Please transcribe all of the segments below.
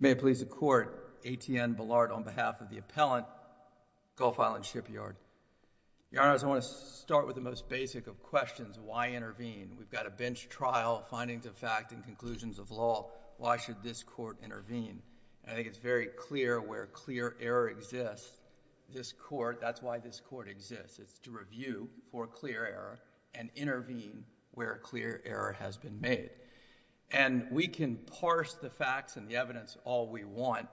May it please the Court, A. T. N. Ballard on behalf of the Appellant, Gulf Island Shipyard. Your Honors, I want to start with the most basic of questions, why intervene? We've got a bench trial, findings of fact, and conclusions of law. Why should this Court intervene? I think it's very clear where clear error exists. This Court, that's why this Court exists, to review for clear error and intervene where clear error has been made. And we can parse the facts and the evidence all we want,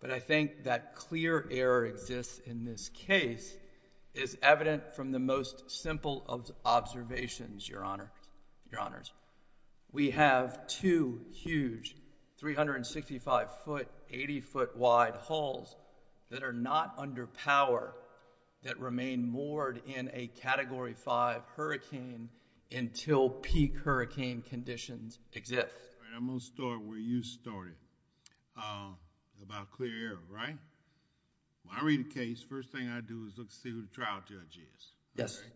but I think that clear error exists in this case is evident from the most simple of observations, Your Honors. We have two huge, 365-foot, 80-foot wide halls that are not under power that remain moored in a Category 5 hurricane until peak hurricane conditions exist. All right, I'm going to start where you started about clear error, right? When I read a case, first thing I do is look to see who the trial judge is, right? Yes, Your Honor.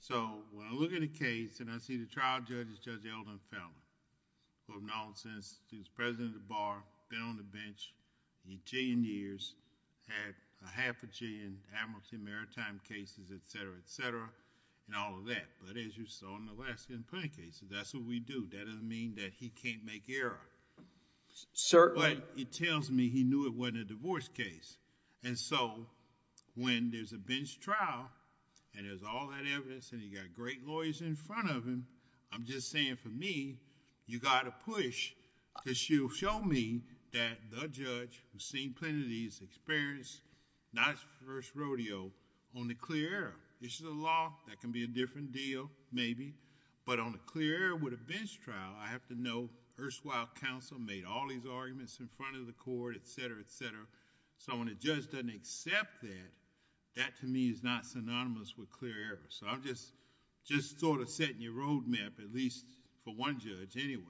So when I look at a case and I see the trial judge is Judge Eldon Feldman, full of nonsense, he was president of the Bar, been on the bench a jillion years, had a half a jillion Amherst and Maritime cases, etc., etc., and all of that. But as you saw in the last 10 plaintiff cases, that's what we do. That doesn't mean that he can't make error. Sir... But it tells me he knew it wasn't a divorce case. And so, when there's a bench trial and there's all that evidence and you've got great lawyers in front of him, I'm just saying for me, you've got to push to show me that the judge, who's seen plenty of these, experienced not his first rodeo on the clear error. This is a law that can be a different deal, maybe, but on the clear error with a bench trial, I have to know Urswild Counsel made all these arguments in front of the court, etc., etc. So when the judge doesn't accept that, that to me is not synonymous with clear error. So I'm just sort of setting your roadmap, at least for one judge, anyway.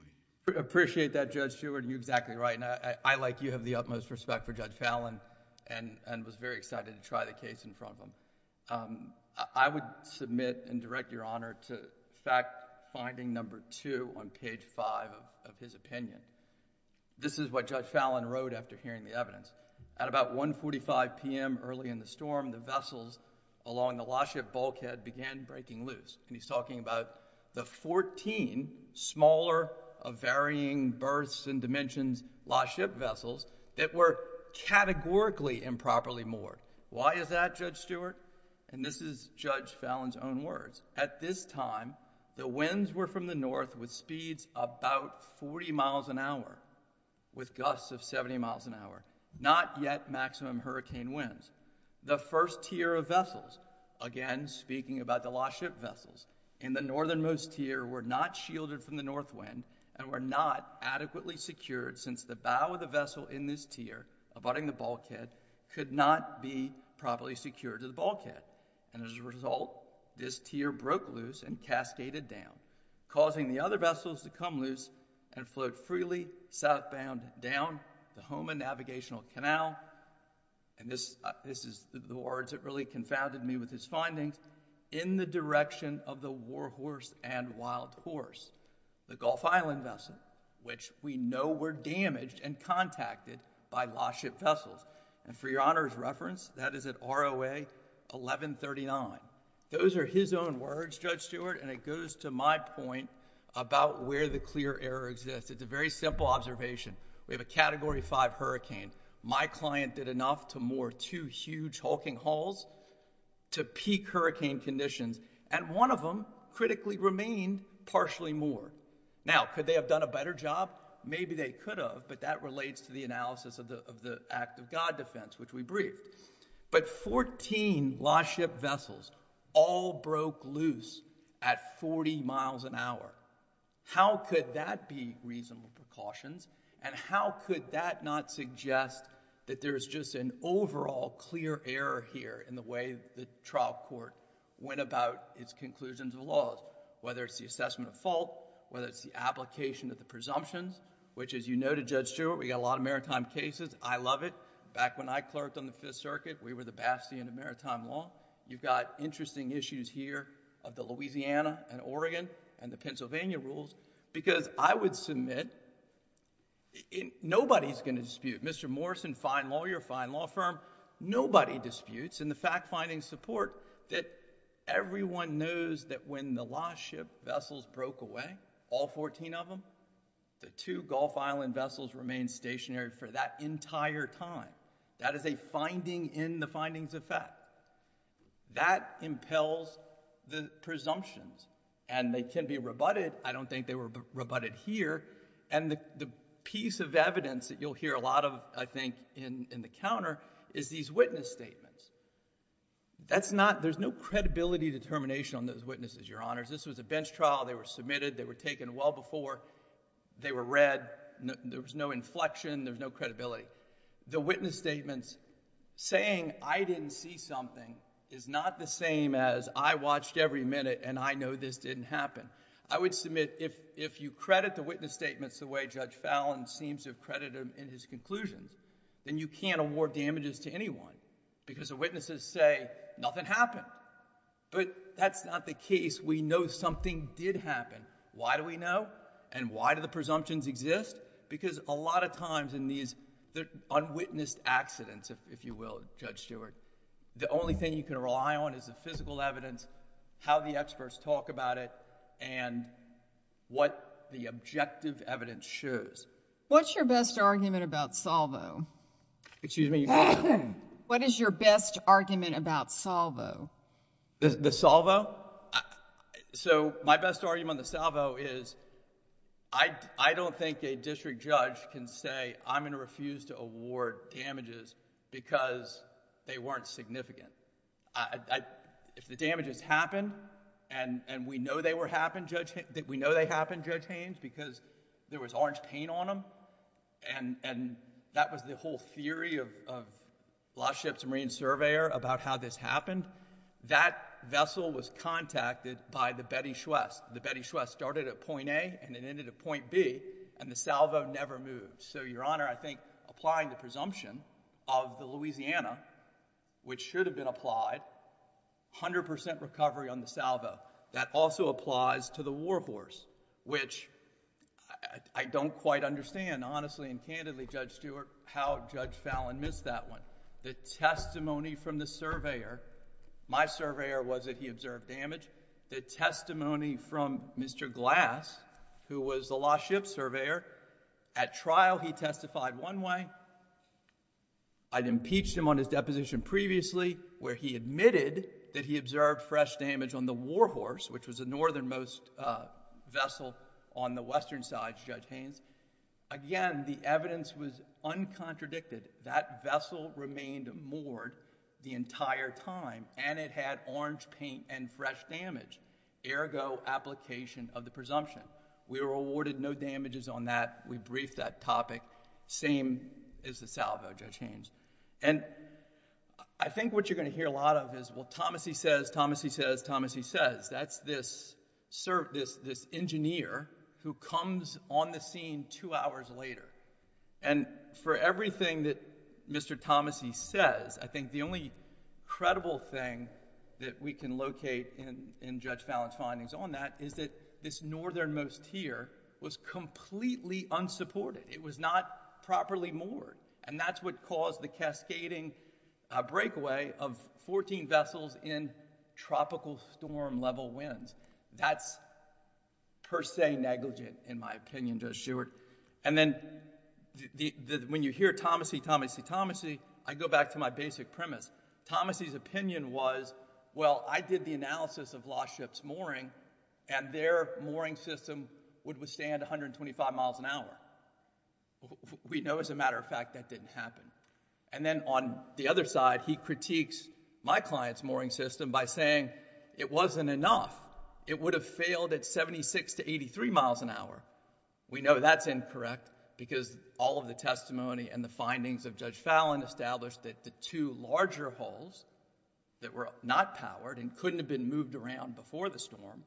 I appreciate that, Judge Stewart. You're exactly right. And I, like you, have the utmost respect for Judge Fallon and was very excited to try the case in front of him. I would submit and direct Your Honor to fact finding number 2 on page 5 of his opinion. This is what Judge Fallon wrote after hearing the evidence. At about 1.45 p.m. early in the storm, the vessels along the lost ship bulkhead began breaking loose. And he's talking about the 14 smaller of varying berths and dimensions lost ship vessels that were categorically improperly moored. Why is that, Judge Stewart? And this is Judge Fallon's own words. At this time, the winds were from the north with speeds about 40 miles an hour, with gusts of 70 miles an hour, not yet maximum hurricane winds. The first tier of vessels, again speaking about the lost ship vessels, in the northernmost tier were not shielded from the north wind and were not adequately secured since the bow of the vessel in this tier abutting the bulkhead could not be properly secured to the bulkhead. And as a result, this tier broke loose and cascaded down, causing the other vessels to come loose and float freely southbound down the Hohmann Navigational Canal, and this is the words that really confounded me with his findings, in the direction of the warhorse and wild horse, the Gulf Island vessel, which we know were damaged and contacted by lost ship vessels. And for your Honor's reference, that is at ROA 1139. Those are his own words, Judge Stewart, and it goes to my point about where the clear error exists. It's a very simple observation. We have a Category 5 hurricane. My client did enough to moor two huge hulking hulls to peak hurricane conditions, and one of them critically remained partially moored. Now, could they have done a better job? Maybe they could have, but that relates to the analysis of the Act of God defense, which we briefed. But 14 lost ship vessels all broke loose at 40 miles an hour. How could they have done that? How could that be reasonable precautions? And how could that not suggest that there is just an overall clear error here in the way the trial court went about its conclusions of laws, whether it's the assessment of fault, whether it's the application of the presumptions, which as you noted, Judge Stewart, we got a lot of maritime cases. I love it. Back when I clerked on the Fifth Circuit, we were the bastion of maritime law. You've got interesting issues here of the Louisiana and Oregon and the Pennsylvania rules because I would submit, nobody's going to dispute, Mr. Morrison, fine lawyer, fine law firm, nobody disputes in the fact-finding support that everyone knows that when the lost ship vessels broke away, all 14 of them, the two Gulf Island vessels remained stationary for that entire time. That is a finding in the findings of fact. That impels the presumptions. And they can be rebutted. I don't think they were rebutted here. And the piece of evidence that you'll hear a lot of, I think, in the counter is these witness statements. That's not, there's no credibility determination on those witnesses, Your Honors. This was a bench trial. They were submitted. They were taken well before. They were read. There was no inflection. There's no credibility. The witness statements saying I didn't see something is not the same as I watched every minute and I know this didn't happen. I would submit if you credit the witness statements the way Judge Fallin seems to have credited them in his conclusions, then you can't award damages to anyone because the witnesses say nothing happened. But that's not the case. We know something did happen. Why do we know? And why do the presumptions exist? Because a lot of times in these unwitnessed accidents, if you will, Judge Stewart, the only thing you can rely on is the physical evidence, how the experts talk about it, and what the objective evidence shows. What's your best argument about Salvo? Excuse me? What is your best argument about Salvo? The Salvo? So my best argument on the Salvo is I don't think a district judge can say I'm going to refuse to award damages because they weren't significant. If the damages happened and we know they happened, Judge Haynes, because there was orange paint on them, and that was the whole theory of Lost Ships Marine Surveyor about how this happened, that vessel was contacted by the Betty Schwest. The Betty Schwest started at point A and it ended at point B, and the Salvo never moved. So, Your Honor, I think applying the presumption of the Louisiana, which should have been applied, 100 percent recovery on the Salvo. That also applies to the War Horse, which I don't quite understand, honestly and candidly, Judge Stewart, how Judge Fallon missed that one. The testimony from the surveyor, my surveyor was that he observed damage. The testimony from Mr. Glass, who was the Lost Ships Surveyor, at trial he testified one way. I'd impeached him on his deposition previously where he admitted that he observed fresh damage on the War Horse, which was the northernmost vessel on the western side, Judge Haynes. Again, the evidence was uncontradicted. That vessel remained moored the entire time and it had orange paint and fresh damage, ergo, application of the presumption. We were awarded no damages on that. We briefed that topic, same as the Salvo, Judge Haynes. And I think what you're going to hear a lot of is, well, Thomassey says, Thomassey says, Thomassey says. That's this engineer who comes on the scene two hours later. And for everything that Mr. Thomassey says, I think the only credible thing that we can locate in Judge Fallon's findings on that is that this northernmost here was completely unsupported. It was not properly moored. And that's what caused the cascading breakaway of 14 vessels in tropical storm level winds. That's per se negligent, in my opinion, Judge Stewart. And then when you hear Thomassey, Thomassey, Thomassey, I go back to my basic premise. Thomassey's opinion was, well, I did the analysis of Lost Ships mooring and their mooring system would withstand 125 miles an hour. We know as a matter of fact that didn't happen. And then on the other side, he critiques my client's mooring system by saying it wasn't enough. It would have failed at 76 to 83 miles an hour. We know that's incorrect because all of the testimony and the findings of Judge Fallon established that the two larger hulls that were not powered and couldn't have been moved around before the storm,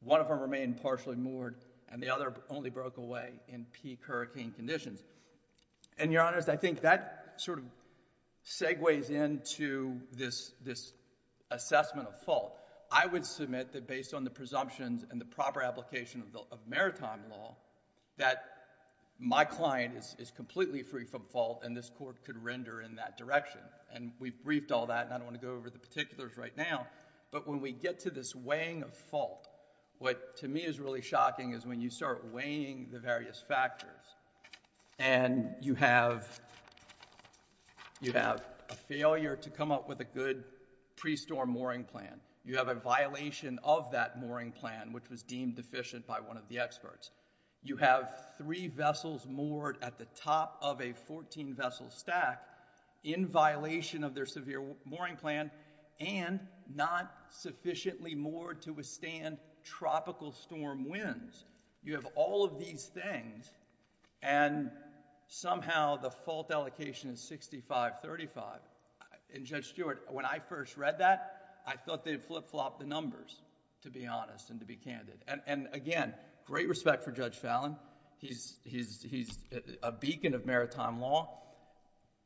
one of them remained partially moored and the other only broke away in peak hurricane conditions. And Your Honors, I think that sort of segues into this assessment of fault. I would submit that based on the presumptions and the proper application of maritime law, that my client is completely free from fault and this Court could render in that direction. And we've briefed all that and I don't want to go over the particulars right now. But when we get to this weighing of fault, what to me is really shocking is when you start weighing the various factors and you have a failure to come up with a good pre-storm mooring plan. You have a violation of that mooring plan, which was deemed deficient by one of the experts. You have three vessels moored at the top of a 14-vessel stack in violation of their severe mooring plan and not sufficiently moored to withstand tropical storm winds. You have all of these things and somehow the fault allocation is 65-35. And Judge Stewart, when I first read that, I thought they had flip-flopped the numbers, to be honest and to be candid. And again, great respect for Judge Fallon. He's a beacon of maritime law.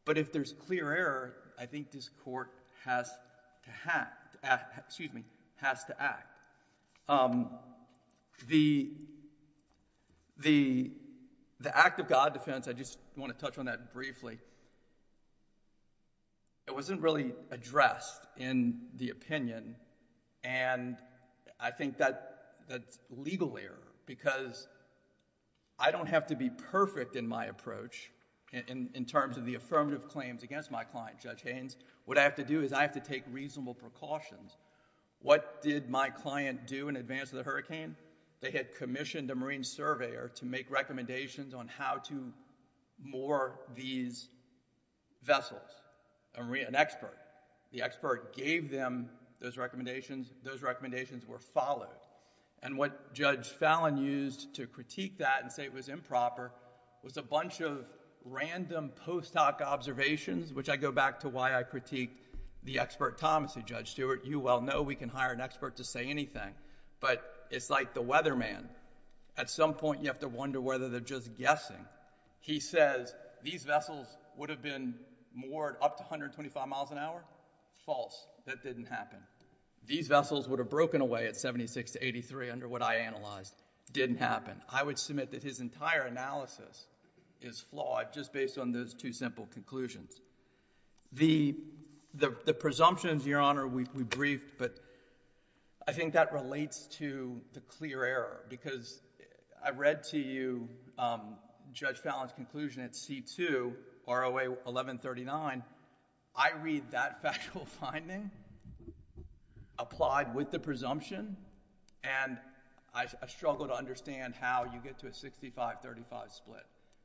But if there's a clear error, I think this Court has to act. The act of God defense, I just want to touch on that briefly, it wasn't really addressed in the opinion and I think that's legal error because I don't have to be perfect in my approach in terms of the affirmative claims against my client, Judge Haynes. What I have to do is I have to take reasonable precautions. What did my client do in advance of the hurricane? They had commissioned a marine surveyor to make recommendations on how to moor these vessels. An expert. The expert gave them those recommendations, were followed. And what Judge Fallon used to critique that and say it was improper was a bunch of random post-hoc observations, which I go back to why I critiqued the expert, Thomas, to Judge Stewart. You well know we can hire an expert to say anything. But it's like the weatherman. At some point you have to wonder whether they're just guessing. He says, these vessels would have been moored up to 125 miles an hour. False. That didn't happen. These vessels would have broken away at 76 to 83 under what I analyzed. Didn't happen. I would submit that his entire analysis is flawed just based on those two simple conclusions. The presumptions, Your Honor, we briefed, but I think that relates to the clear error because I read to you Judge Fallon's conclusion at C-2, ROA 1139. I read that factual finding applied with the presumption, and I struggle to understand how you get to a 65-35 split,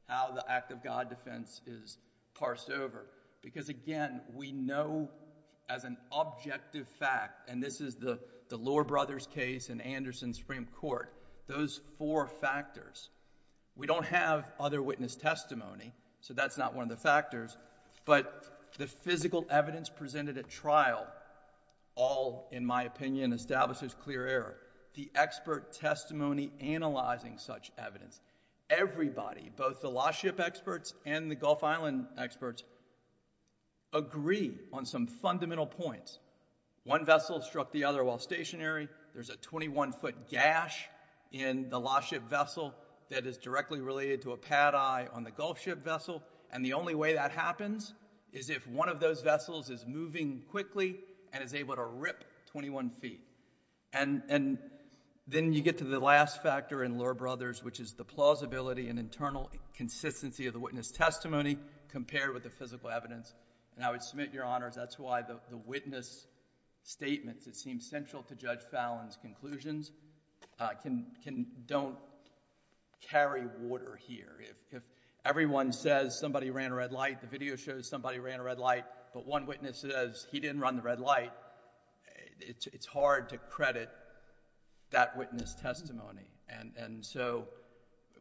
how the act of God defense is parsed over. Because again, we know as an objective fact, and this is the Lohr brothers case and Anderson Supreme Court, those four factors. We don't have other witness testimony, so that's not one of the factors, but the physical evidence presented at trial all, in my opinion, establishes clear error. The expert testimony analyzing such evidence. Everybody, both the lost ship experts and the Gulf Island experts, agree on some fundamental points. One vessel struck the other while stationary. There's a 21-foot gash in the lost ship vessel that is directly related to a pad eye on the Gulf ship vessel, and the only way that happens is if one of those vessels is moving quickly and is able to rip 21 feet. And then you get to the last factor in Lohr brothers, which is the plausibility and internal consistency of the witness testimony compared with the physical evidence, and I would submit, Your Honors, that's why the witness statements that seem central to Judge Fallon's conclusions don't carry water here. If everyone says, you know, we're going to have somebody ran a red light, the video shows somebody ran a red light, but one witness says he didn't run the red light, it's hard to credit that witness testimony. And so,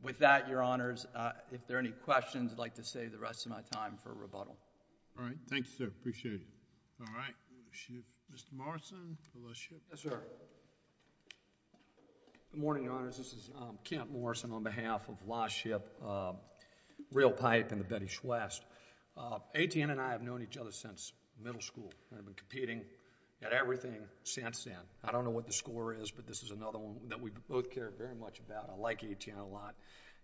with that, Your Honors, if there are any questions, I'd like to save the rest of my time for rebuttal. All right. Thank you, sir. Appreciate it. All right. Mr. Morrison, for lost ship. Yes, sir. Good morning, Your Honors. This is Kent Morrison on behalf of lost ship, real pipe in the city of Shwest. AT&T and I have known each other since middle school. I've been competing at everything since then. I don't know what the score is, but this is another one that we both care very much about. I like AT&T a lot.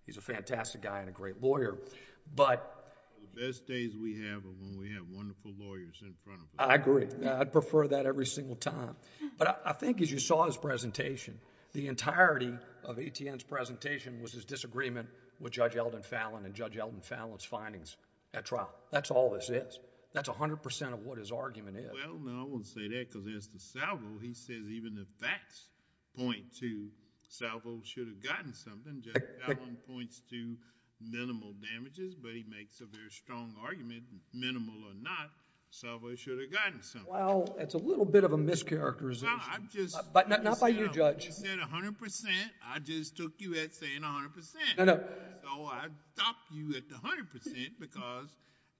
He's a fantastic guy and a great lawyer, but... The best days we have are when we have wonderful lawyers in front of us. I agree. I'd prefer that every single time. But I think as you saw his presentation, the entirety of AT&T's presentation was his disagreement with Judge Elden Fallon and Judge Elden Fallon's findings at trial. That's all this is. That's 100% of what his argument is. Well, no, I won't say that because as to Salvo, he says even if facts point to Salvo should have gotten something, Judge Fallon points to minimal damages, but he makes a very strong argument, minimal or not, Salvo should have gotten something. Well, it's a little bit of a mischaracterization. No, I'm just... Not by you, Judge. You said 100%. I just took you at saying 100%. No, no. So I stopped you at the 100% because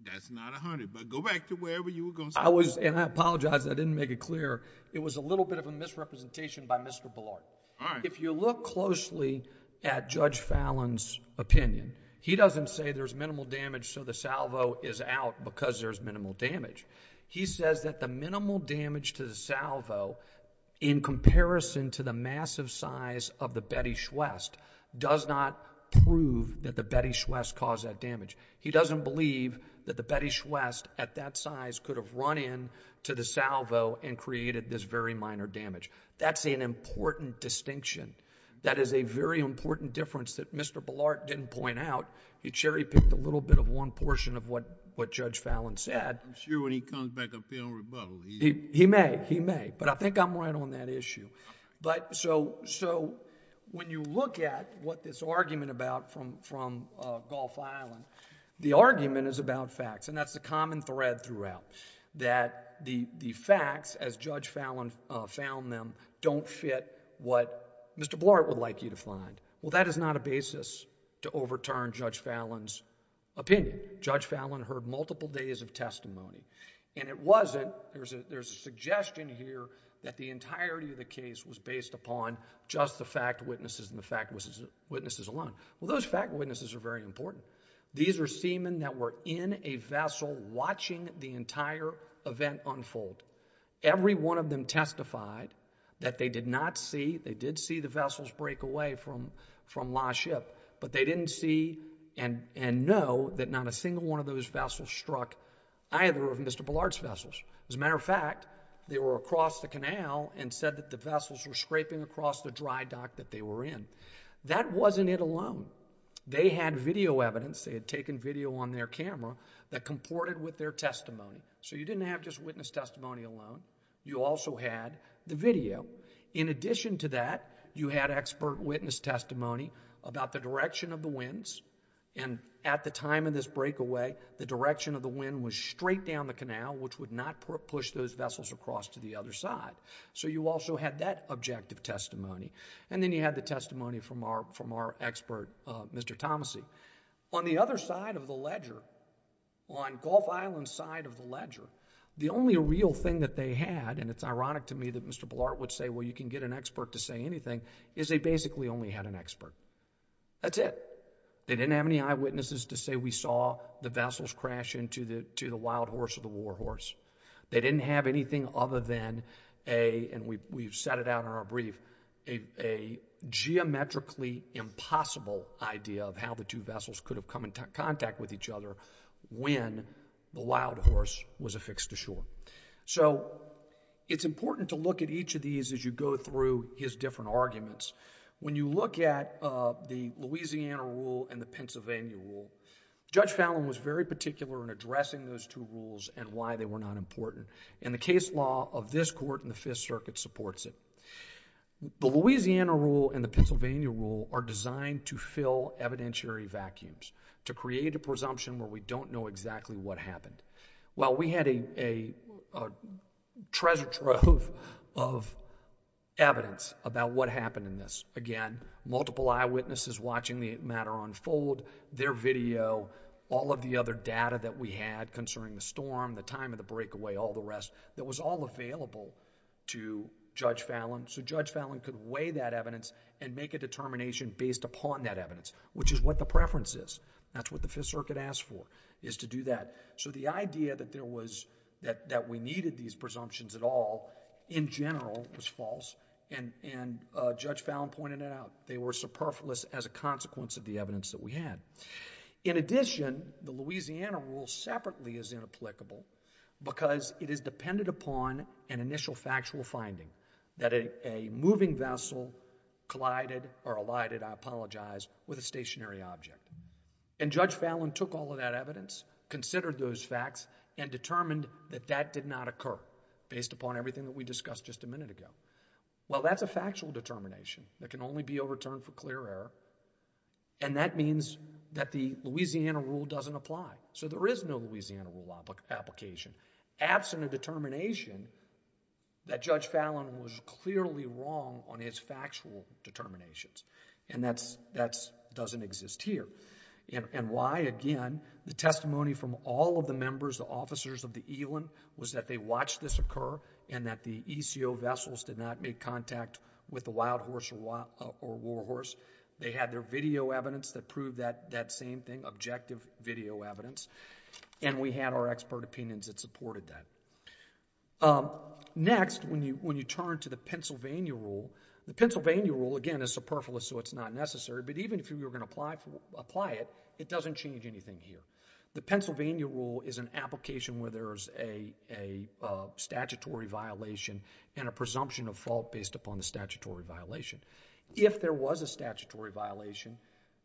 that's not 100, but go back to wherever you were going to say... I was, and I apologize, I didn't make it clear. It was a little bit of a misrepresentation by Mr. Bullard. All right. If you look closely at Judge Fallon's opinion, he doesn't say there's minimal damage so the Salvo is out because there's minimal damage. He says that the minimal damage to the Salvo in comparison to the massive size of the Betty Schwest does not prove that the Betty Schwest caused that damage. He doesn't believe that the Betty Schwest at that size could have run in to the Salvo and created this very minor damage. That's an important distinction. That is a very important difference that Mr. Bullard didn't point out. He cherry-picked a little bit of one portion of what Judge Fallon said. I'm sure when he comes back up here on rebuttal... He may, he may, but I think I'm right on that issue. When you look at what this argument about from Gulf Island, the argument is about facts, and that's the common thread throughout, that the facts as Judge Fallon found them don't fit what Mr. Bullard would like you to find. Well, that is not a basis to overturn Judge Fallon's opinion. Judge Fallon heard there's a suggestion here that the entirety of the case was based upon just the fact witnesses and the fact witnesses alone. Well, those fact witnesses are very important. These are seamen that were in a vessel watching the entire event unfold. Every one of them testified that they did not see, they did see the vessels break away from La ship, but they didn't see and know that not a single one of those vessels. As a matter of fact, they were across the canal and said that the vessels were scraping across the dry dock that they were in. That wasn't it alone. They had video evidence, they had taken video on their camera that comported with their testimony. So you didn't have just witness testimony alone, you also had the video. In addition to that, you had expert witness testimony about the direction of the winds, and at the time of this breakaway, the direction of the wind was straight down the canal which would not push those vessels across to the other side. So you also had that objective testimony, and then you had the testimony from our expert, Mr. Thomassey. On the other side of the ledger, on Gulf Island's side of the ledger, the only real thing that they had, and it's ironic to me that Mr. Blart would say, well, you can get an expert to say anything, is they basically only had an expert. That's it. They didn't have any eyewitnesses to say we saw the vessels crash into the wild horse or the war horse. They didn't have anything other than a, and we've set it out in our brief, a geometrically impossible idea of how the two vessels could have come into contact with each other when the wild horse was affixed to shore. So it's important to look at each of these as you go through his different arguments. When you look at the Louisiana rule and the Pennsylvania rule, Judge Fallon was very particular in addressing those two rules and why they were not important, and the case law of this Court in the Fifth Circuit supports it. The Louisiana rule and the Pennsylvania rule are designed to fill evidentiary vacuums, to create a presumption where we don't know exactly what happened. Well, we had a treasure trove of evidence about what happened in this. Again, multiple eyewitnesses watching the matter unfold, their video, all of the other data that we had concerning the storm, the time of the breakaway, all the rest, that was all available to Judge Fallon so Judge Fallon could weigh that evidence and make a determination based upon that evidence, which is what the preference is. That's what the Fifth Circuit asked for, is to do that. So the idea that there was... that we needed these presumptions at all in general was false, and Judge Fallon pointed it out. They were superfluous as a consequence of the evidence that we had. In addition, the Louisiana rule separately is inapplicable because it is dependent upon an initial factual finding, that a moving vessel collided or alighted, I apologize, with a stationary object. And Judge Fallon took all of that evidence, considered those facts, and determined that that did not occur based upon everything that we discussed just a minute ago. Well, that's a factual determination that can only be overturned for clear error, and that means that the Louisiana rule doesn't apply. So there is no Louisiana rule application. Absent a determination that Judge Fallon was clearly wrong on his factual determinations, and that doesn't exist here. And why, again, the testimony from all of the members, the officers of the ELIN, was that they watched this occur and that the ECO vessels did not make contact with the wild horse or war horse. They had their video evidence that proved that same thing, objective video evidence, and we had our expert opinions that supported that. Next, when you turn to the Pennsylvania rule, the Pennsylvania rule, again, is superfluous so it's not necessary, but even if you were going to apply it, it doesn't change anything here. The Pennsylvania rule is an application where there is a statutory violation and a presumption of fault based upon the statutory violation. If there was a statutory violation,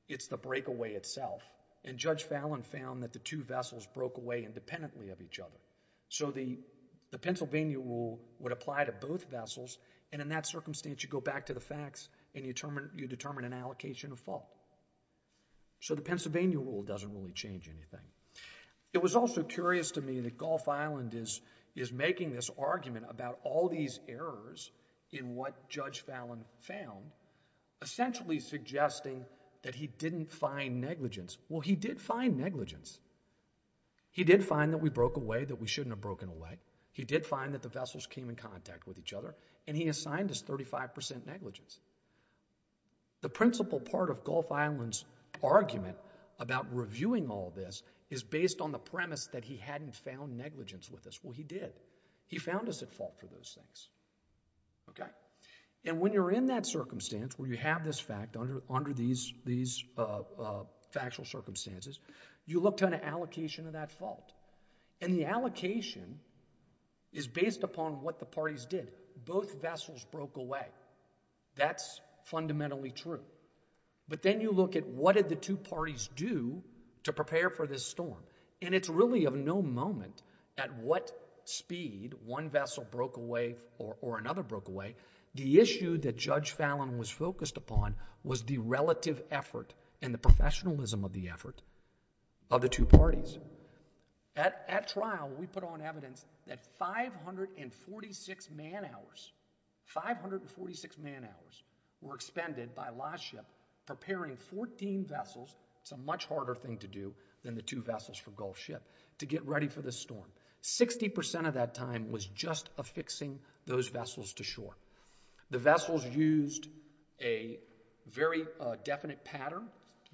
it's the breakaway itself, and Judge Fallon found that the two vessels broke away independently of each other. So the Pennsylvania rule would apply to both vessels, and in that circumstance you go back to the facts and you determine an allocation of fault. So the Pennsylvania rule doesn't really change anything. It was also curious to me that he was making this argument about all these errors in what Judge Fallon found, essentially suggesting that he didn't find negligence. Well, he did find negligence. He did find that we broke away that we shouldn't have broken away. He did find that the vessels came in contact with each other, and he assigned us 35 percent negligence. The principal part of Gulf Island's argument about reviewing all this is based on the premise that he hadn't found negligence with us. Well, he did. He found us at fault for those things. And when you're in that circumstance where you have this fact under these factual circumstances, you look to an allocation of that fault, and the allocation is based upon what the parties did. Both vessels broke away. That's fundamentally true. But then you look at what did the two parties do to prepare for this storm, and it's really of no moment at what speed one vessel broke away or another broke away. The issue that Judge Fallon was focused upon was the relative effort and the professionalism of the effort of the two parties. At trial, we put on evidence that 546 man-hours, 546 man-hours were expended by last ship preparing 14 vessels. It's a much harder thing to do than the two vessels from Gulf Ship to get ready for this storm. Sixty percent of that time was just affixing those vessels to shore. The vessels used a very definite pattern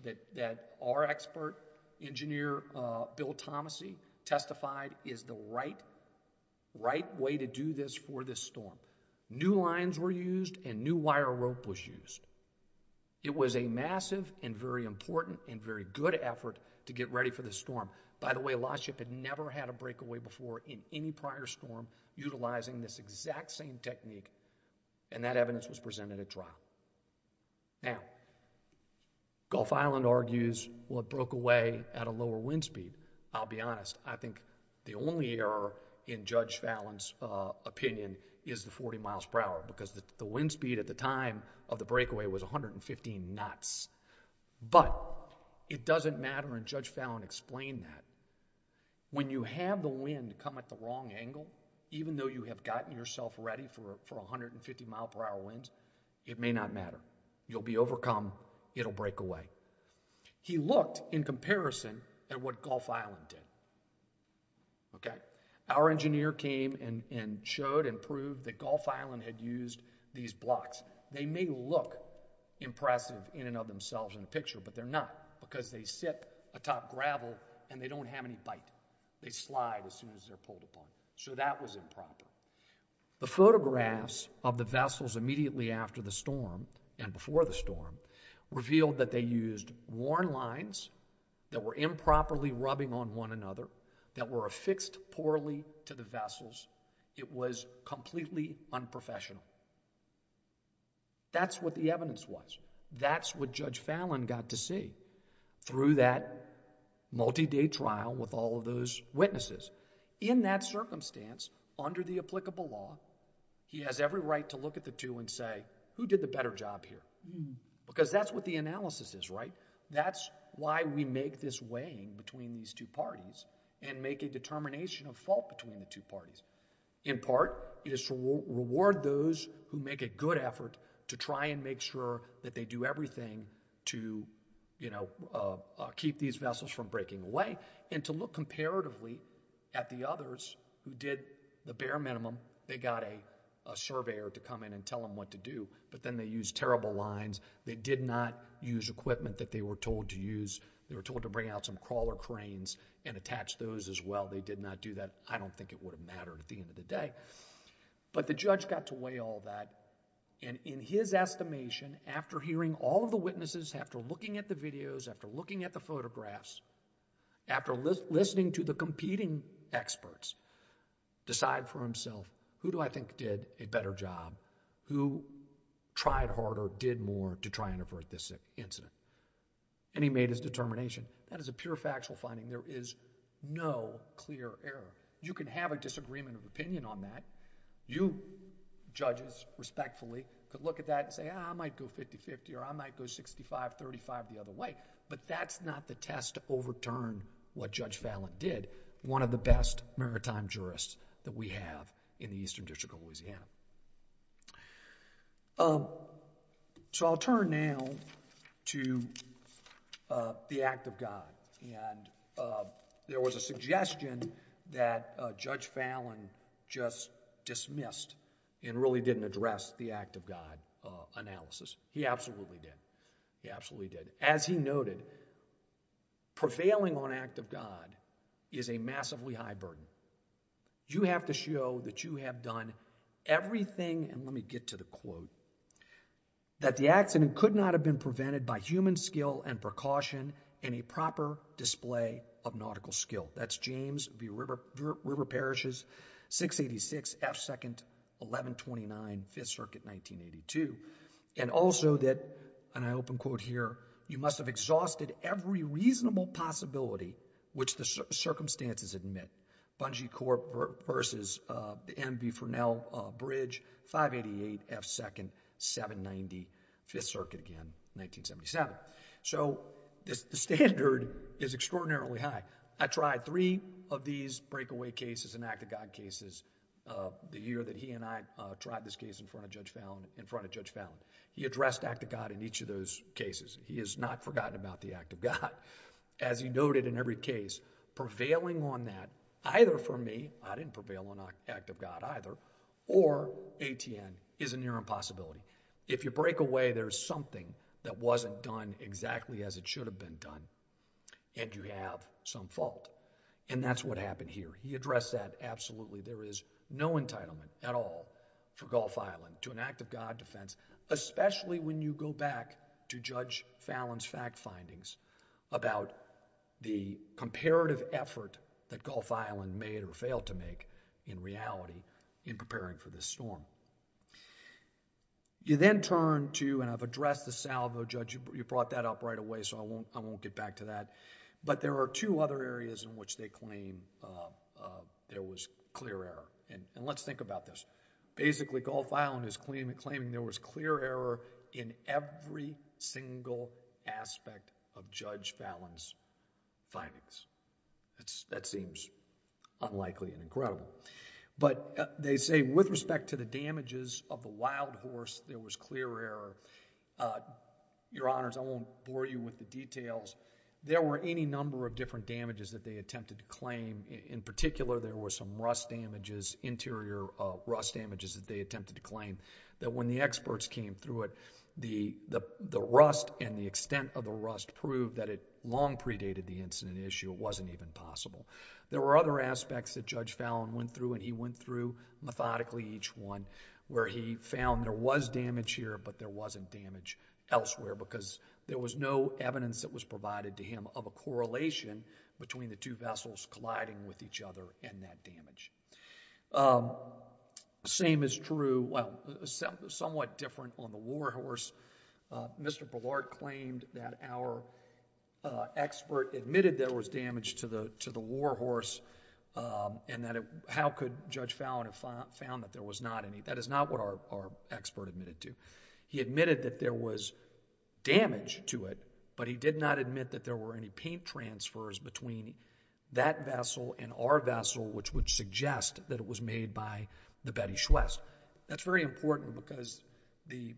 that our expert engineer, Bill Thomassey, testified is the right way to do this for this storm. New lines were used and new wire rope was used. It was a massive and very important and very good effort to get ready for this storm. By the way, last ship had never had a breakaway before in any prior storm utilizing this exact same technique, and that evidence was presented at trial. Now, Gulf Island argues, well, it broke away at a lower wind speed. I'll be honest, I think the only error in Judge Fallon's opinion is the forty miles per hour, because the wind speed at the time of the breakaway was 115 knots, but it doesn't matter and Judge Fallon explained that. When you have the wind come at the wrong angle, even though you have gotten yourself ready for 150 mile per hour winds, it may not matter. You'll be overcome, it'll break away. He looked in comparison at what Gulf Island did. Our engineer came and showed and proved that Gulf Island had used these blocks. They may look impressive in and of themselves in the picture, but they're not, because they sit atop gravel and they don't have any bite. They slide as soon as they're pulled upon. So that was improper. The photographs of the vessels immediately after the storm and before the storm revealed that they used worn lines that were improperly rubbing on one another, that were affixed poorly to the vessels. It was completely unprofessional. That's what the evidence was. That's what Judge Fallon got to see through that multi-day trial with all of those witnesses. In that circumstance, under the applicable law, he has every right to look at the two and say, who did the better job here? Because that's what the analysis is, right? That's why we make this weighing between these two parties and make a determination of fault between the two parties. In part, it is to reward those who make a good effort to try and make sure that they do everything to keep these vessels from breaking away and to look comparatively at the others who did the bare minimum. They got a surveyor to come in and tell them what to do, but then they used terrible lines. They did not use equipment that they were told to use. They were told to bring out some crawler cranes and attach those as well. They did not do that. I don't think it would have mattered at the end of the day. The judge got to weigh all that and in his estimation, after hearing all of the witnesses, after looking at the videos, after looking at the photographs, after listening to the competing experts, decide for himself, who do I think did a better job? Who tried harder, did more to try and avert this incident? He made his determination. That is a pure factual finding. There is no clear error. You can have a disagreement of opinion on that. You, judges, respectfully, could look at that and say, I might go 50-50 or I might go 65-35 the other way, but that's not the test to overturn what Judge Fallon did, one of the best maritime jurists that we have in the Eastern District of Louisiana. I'll turn now to the Act of God. There was a suggestion that Judge Fallon just dismissed and really didn't address the Act of God analysis. He absolutely did. He absolutely did. As he noted, prevailing on Act of God is a massively high burden. You have to show that you have done everything, and let me get to the quote, that the accident could not have been prevented by human skill and precaution and a proper display of nautical skill. That's James v. River Parishes, 686 F. 2nd, 1129, 5th Circuit, 1982. And also that, and I open quote here, you must have exhausted every reasonable possibility which the circumstances admit, Bungie Corp. v. the M. V. Fresnel Bridge, 588 F. 2nd, 790, 5th Circuit, again, 1977. So the standard is extraordinarily high. I tried three of these breakaway cases and Act of God cases the year that he and I tried this case in front of Judge Fallon. He addressed Act of God in each of those cases. He has not forgotten about the Act of God. As he noted in every case, prevailing on that, either for me, I didn't prevail on Act of God either, or ATN, is a near impossibility. If you break away, there's something that wasn't done exactly as it should have been done, and you have some fault. And that's what happened here. He addressed that absolutely. There is no entitlement at all for Gulf Island to an Act of God defense, especially when you go back to Judge Fallon's fact findings about the comparative effort that Gulf Island made or failed to make in reality in preparing for this storm. You then turn to, and I've addressed the salvo, Judge, you brought that up right away, so I won't get back to that, but there are two other areas in which they claim there was clear error. And let's think about this. Basically, Gulf Island is claiming there was clear error in every single aspect of Judge Fallon's findings. That seems unlikely and incredible. But they say with respect to the damages of the wild horse, there was clear error. Your Honors, I won't bore you with the details. There were any number of different damages that they attempted to claim. In particular, there were some rust damages, interior rust damages that they attempted to claim that when the experts came through it, the rust and the extent of the rust proved that it long predated the incident issue. It wasn't even possible. There were other aspects that Judge Fallon went through and he went through methodically each one where he found there was damage here, but there wasn't damage elsewhere because there was no evidence that was provided to him of a correlation between the two vessels colliding with each other and that damage. Same is true, well, somewhat different on the war horse. Mr. Bullard claimed that our expert admitted there was damage to the war horse and that how could Judge Fallon have found that there was not any, that is not what our expert admitted to. He admitted that there was damage to it, but he did not admit that there were any paint transfers between that vessel and our vessel which would suggest that it was made by the Betty Schwest. That's very important because the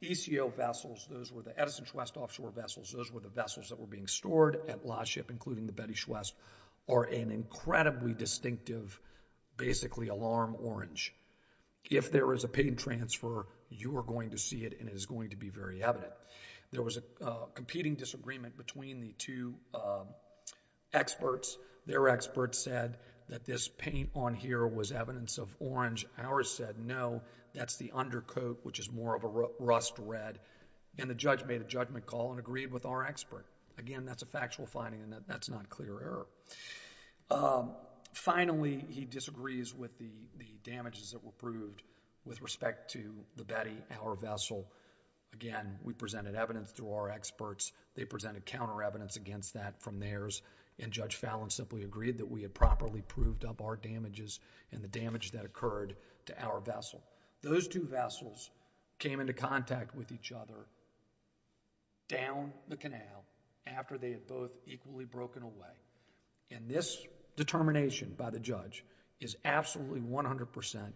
ECO vessels, those were the Edison Schwest offshore vessels, those were the vessels that were being stored at Laship, including the Betty Schwest, are an incredibly distinctive basically alarm orange. If there is a paint transfer, you are going to see it and it is going to be very evident. There was a competing disagreement between the two experts. Their experts said that this paint on here was evidence of orange. Ours said no, that's the undercoat which is more of a rust red and the judge made a judgment call and agreed with our expert. Again, that's a factual finding and that's not clear error. Finally, he disagrees with the damages that were proved with respect to the Betty, our vessel. Again, we presented evidence to our experts. They presented counter evidence against that from theirs and Judge Fallon simply agreed that we had properly proved up our damages and the damage that occurred to our vessel. Those two vessels came into contact with each other down the canal after they had both equally broken away. This determination by the judge is absolutely 100%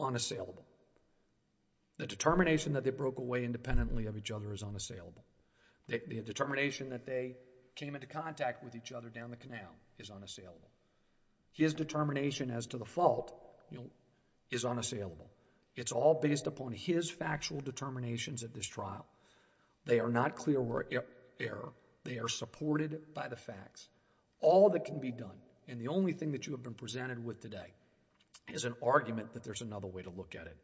unassailable. The determination that they broke away independently of each other is unassailable. The determination that they came into contact with each other down the canal is unassailable. His determination as to the fault is unassailable. It's all based upon his factual determinations at this trial. They are not clear error. They are supported by the facts. All that can be done and the only thing that you have been presented with today is an argument that there's another way to look at it.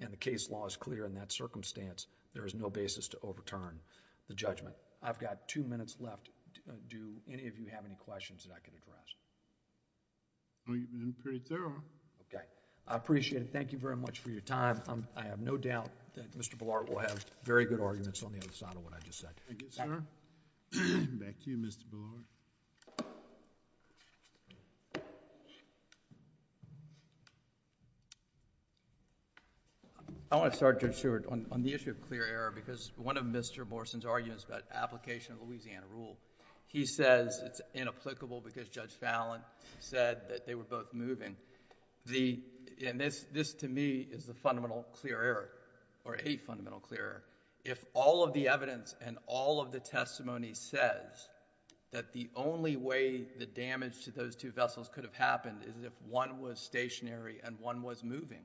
The case law is clear in that circumstance. There is no basis to overturn the judgment. I've got two minutes left. Do any of you have any questions that I can address? I'm pretty thorough. Okay. I appreciate it. Thank you very much for your time. I have no doubt that Mr. Bullard will have very good arguments on the other side of what I just said. Thank you, sir. Back to you, Mr. Bullard. I want to start, Judge Stewart, on the issue of clear error because one of Mr. Morrison's arguments about application of Louisiana rule, he says it's inapplicable because Judge Fallon said that they were both moving. This to me is the fundamental clear error or a fundamental clear error. If all of the evidence and all of the testimony says that the only way the damage to those two vessels could have happened is if one was stationary and one was moving,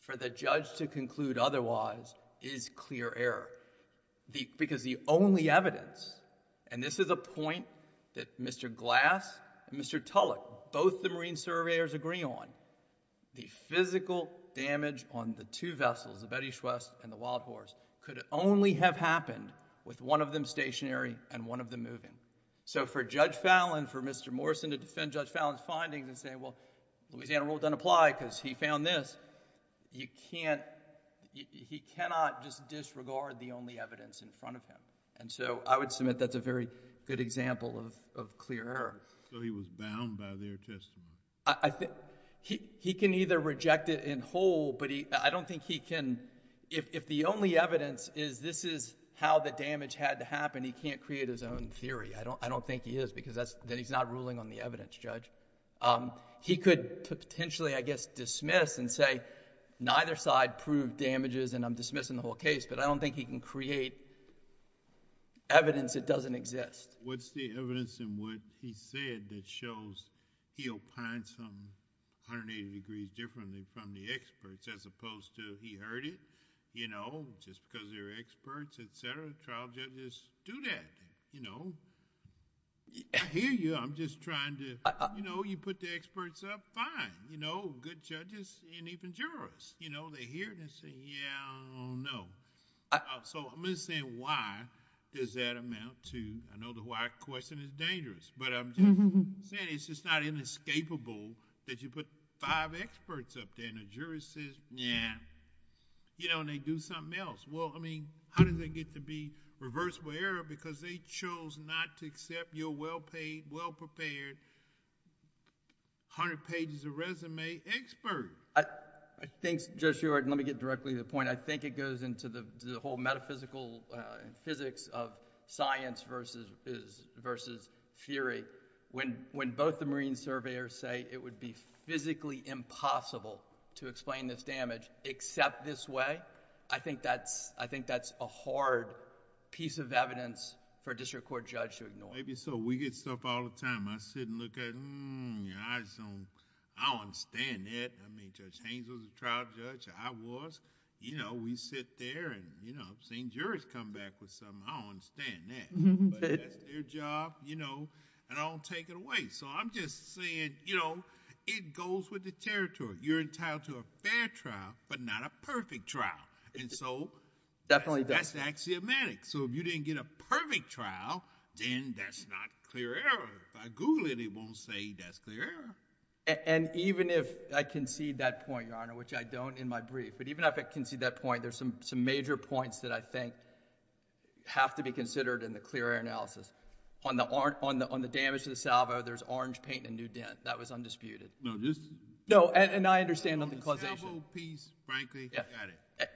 for the judge to conclude otherwise is clear error because the only evidence, and this is a point that Mr. Glass and Mr. Tulloch, both the marine surveyors agree on, the physical damage on the two vessels, the Betty Schwest and the Wild Horse, could only have happened with one of them stationary and one of them moving. So for Judge Fallon, for Mr. Morrison to defend Judge Fallon's findings and say, well, Louisiana rule doesn't apply because he found this, he cannot just disregard the only evidence in front of him. So I would submit that's a very good example of clear error. So he was bound by their testimony? He can either reject it in whole, but I don't think he can... if the only evidence is this is how the damage had to happen, he can't create his own theory. I don't think he is because he's not ruling on the evidence, Judge. He could potentially, I guess, dismiss and say neither side proved damages and I'm dismissing the whole case, but I don't think he can create evidence that doesn't exist. What's the evidence in what he said that shows he'll find something 180 degrees differently from the experts, as opposed to he heard it, you know, just because they're experts, et cetera, trial judges do that. I hear you, I'm just trying to... you put the experts up, fine. Good judges and even jurors, they hear it and say, yeah, I don't know. So I'm just saying why does that amount to... I know the why question is dangerous, but I'm saying it's just not inescapable that you put five experts up there and a juror says, yeah, and they do something else. Well, I mean, how did they get to be reversible error because they chose not to accept your well-paid, well-prepared hundred pages of resume expert? I think, Judge Seward, let me get directly to the point. I think it goes into the whole metaphysical physics of science versus theory. When both the marine surveyors say it would be physically impossible to explain this damage except this way, I think that's a hard piece of evidence for a district court judge to ignore. Maybe so. We get stuff all the time. I sit and look at it, hmm, I don't understand that. I mean, Judge Haynes was a trial judge, I was. We sit there and I've seen jurors come back with something, I don't understand that. But that's their job and I don't take it away. So I'm just saying it goes with the territory. You're entitled to a fair trial, but not a perfect trial. So... That's axiomatic. So if you didn't get a perfect trial, then that's not clear error. If I Google it, it won't say that's clear error. And even if I concede that point, Your Honor, which I don't in my brief, but even if I concede that point, there's some major points that I think have to be considered in the clear error analysis. On the damage to the salvo, there's orange paint and new dent. That was undisputed. No, this... No, and I understand the causation. On the salvo piece, frankly, I got it.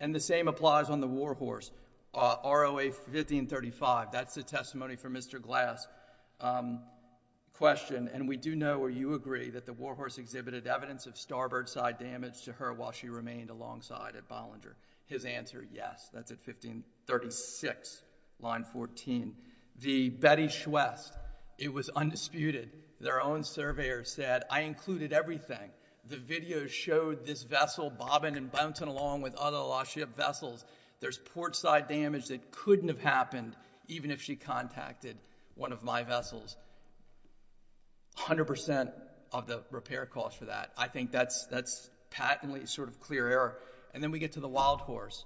And the same applies on the war horse, ROA 1535. That's a testimony from Mr. Glass. Question, and we do know, or you agree, that the war horse exhibited evidence of starboard side damage to her while she remained alongside at Bollinger. His answer, yes. That's at 1536, line 14. The Betty Schwest, it was undisputed. Their own surveyor said, I included everything. The video showed this vessel bobbing and bouncing along with other lost ship vessels. There's port side damage that couldn't have happened even if she contacted one of my vessels. A hundred percent of the repair cost for that. I think that's patently sort of clear error. And then we get to the wild horse.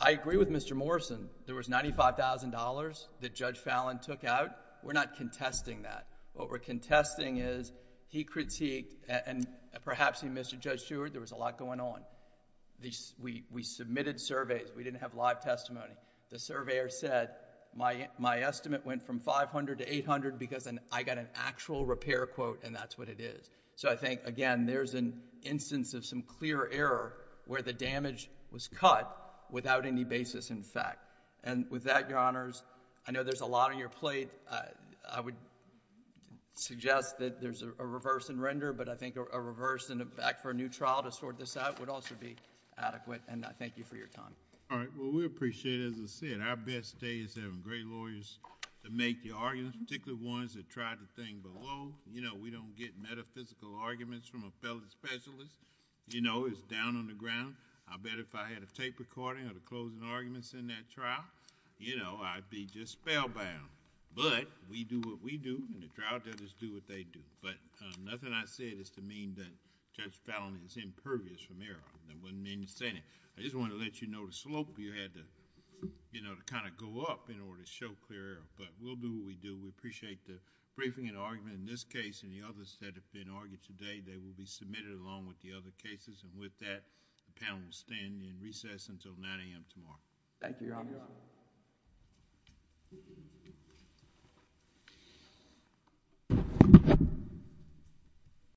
I agree with Mr. Morrison. There was $95,000 that Judge Fallon took out. We're not contesting that. What we're contesting is he critiqued, and perhaps Mr. Judge Stewart, there was a lot going on. We submitted surveys. We didn't have live testimony. The surveyor said, my estimate went from $500 to $800 because I got an actual repair quote, and that's what it is. So I think, again, there's an instance of some clear error where the damage was cut without any basis in fact. And with that, Your Honors, I know there's a lot on your plate. I would suggest that there's a reverse in render, but I think a reverse and a back for a new trial to sort this out would also be adequate, and I thank you for your time. All right. Well, we appreciate it. As I said, our best day is having great lawyers to make the arguments, particularly ones that tried the thing below. We don't get metaphysical arguments from a felony specialist. It's down on the ground. I bet if I had a tape recording of the closing arguments in that trial, I'd be just spellbound. But we do what we do, and the trial judges do what they do. But nothing I said is to mean that Judge Fallon is impervious from error. That doesn't mean he's saying it. I just wanted to let you know the slope you had to kind of go up in order to show clear error, but we'll do what we do. We appreciate the briefing and argument in this case and the others that have been argued today. They will be submitted along with the other cases, and with that, the panel will stand in recess until 9 a.m. tomorrow. Thank you, Your Honor. Thank you, Your Honor.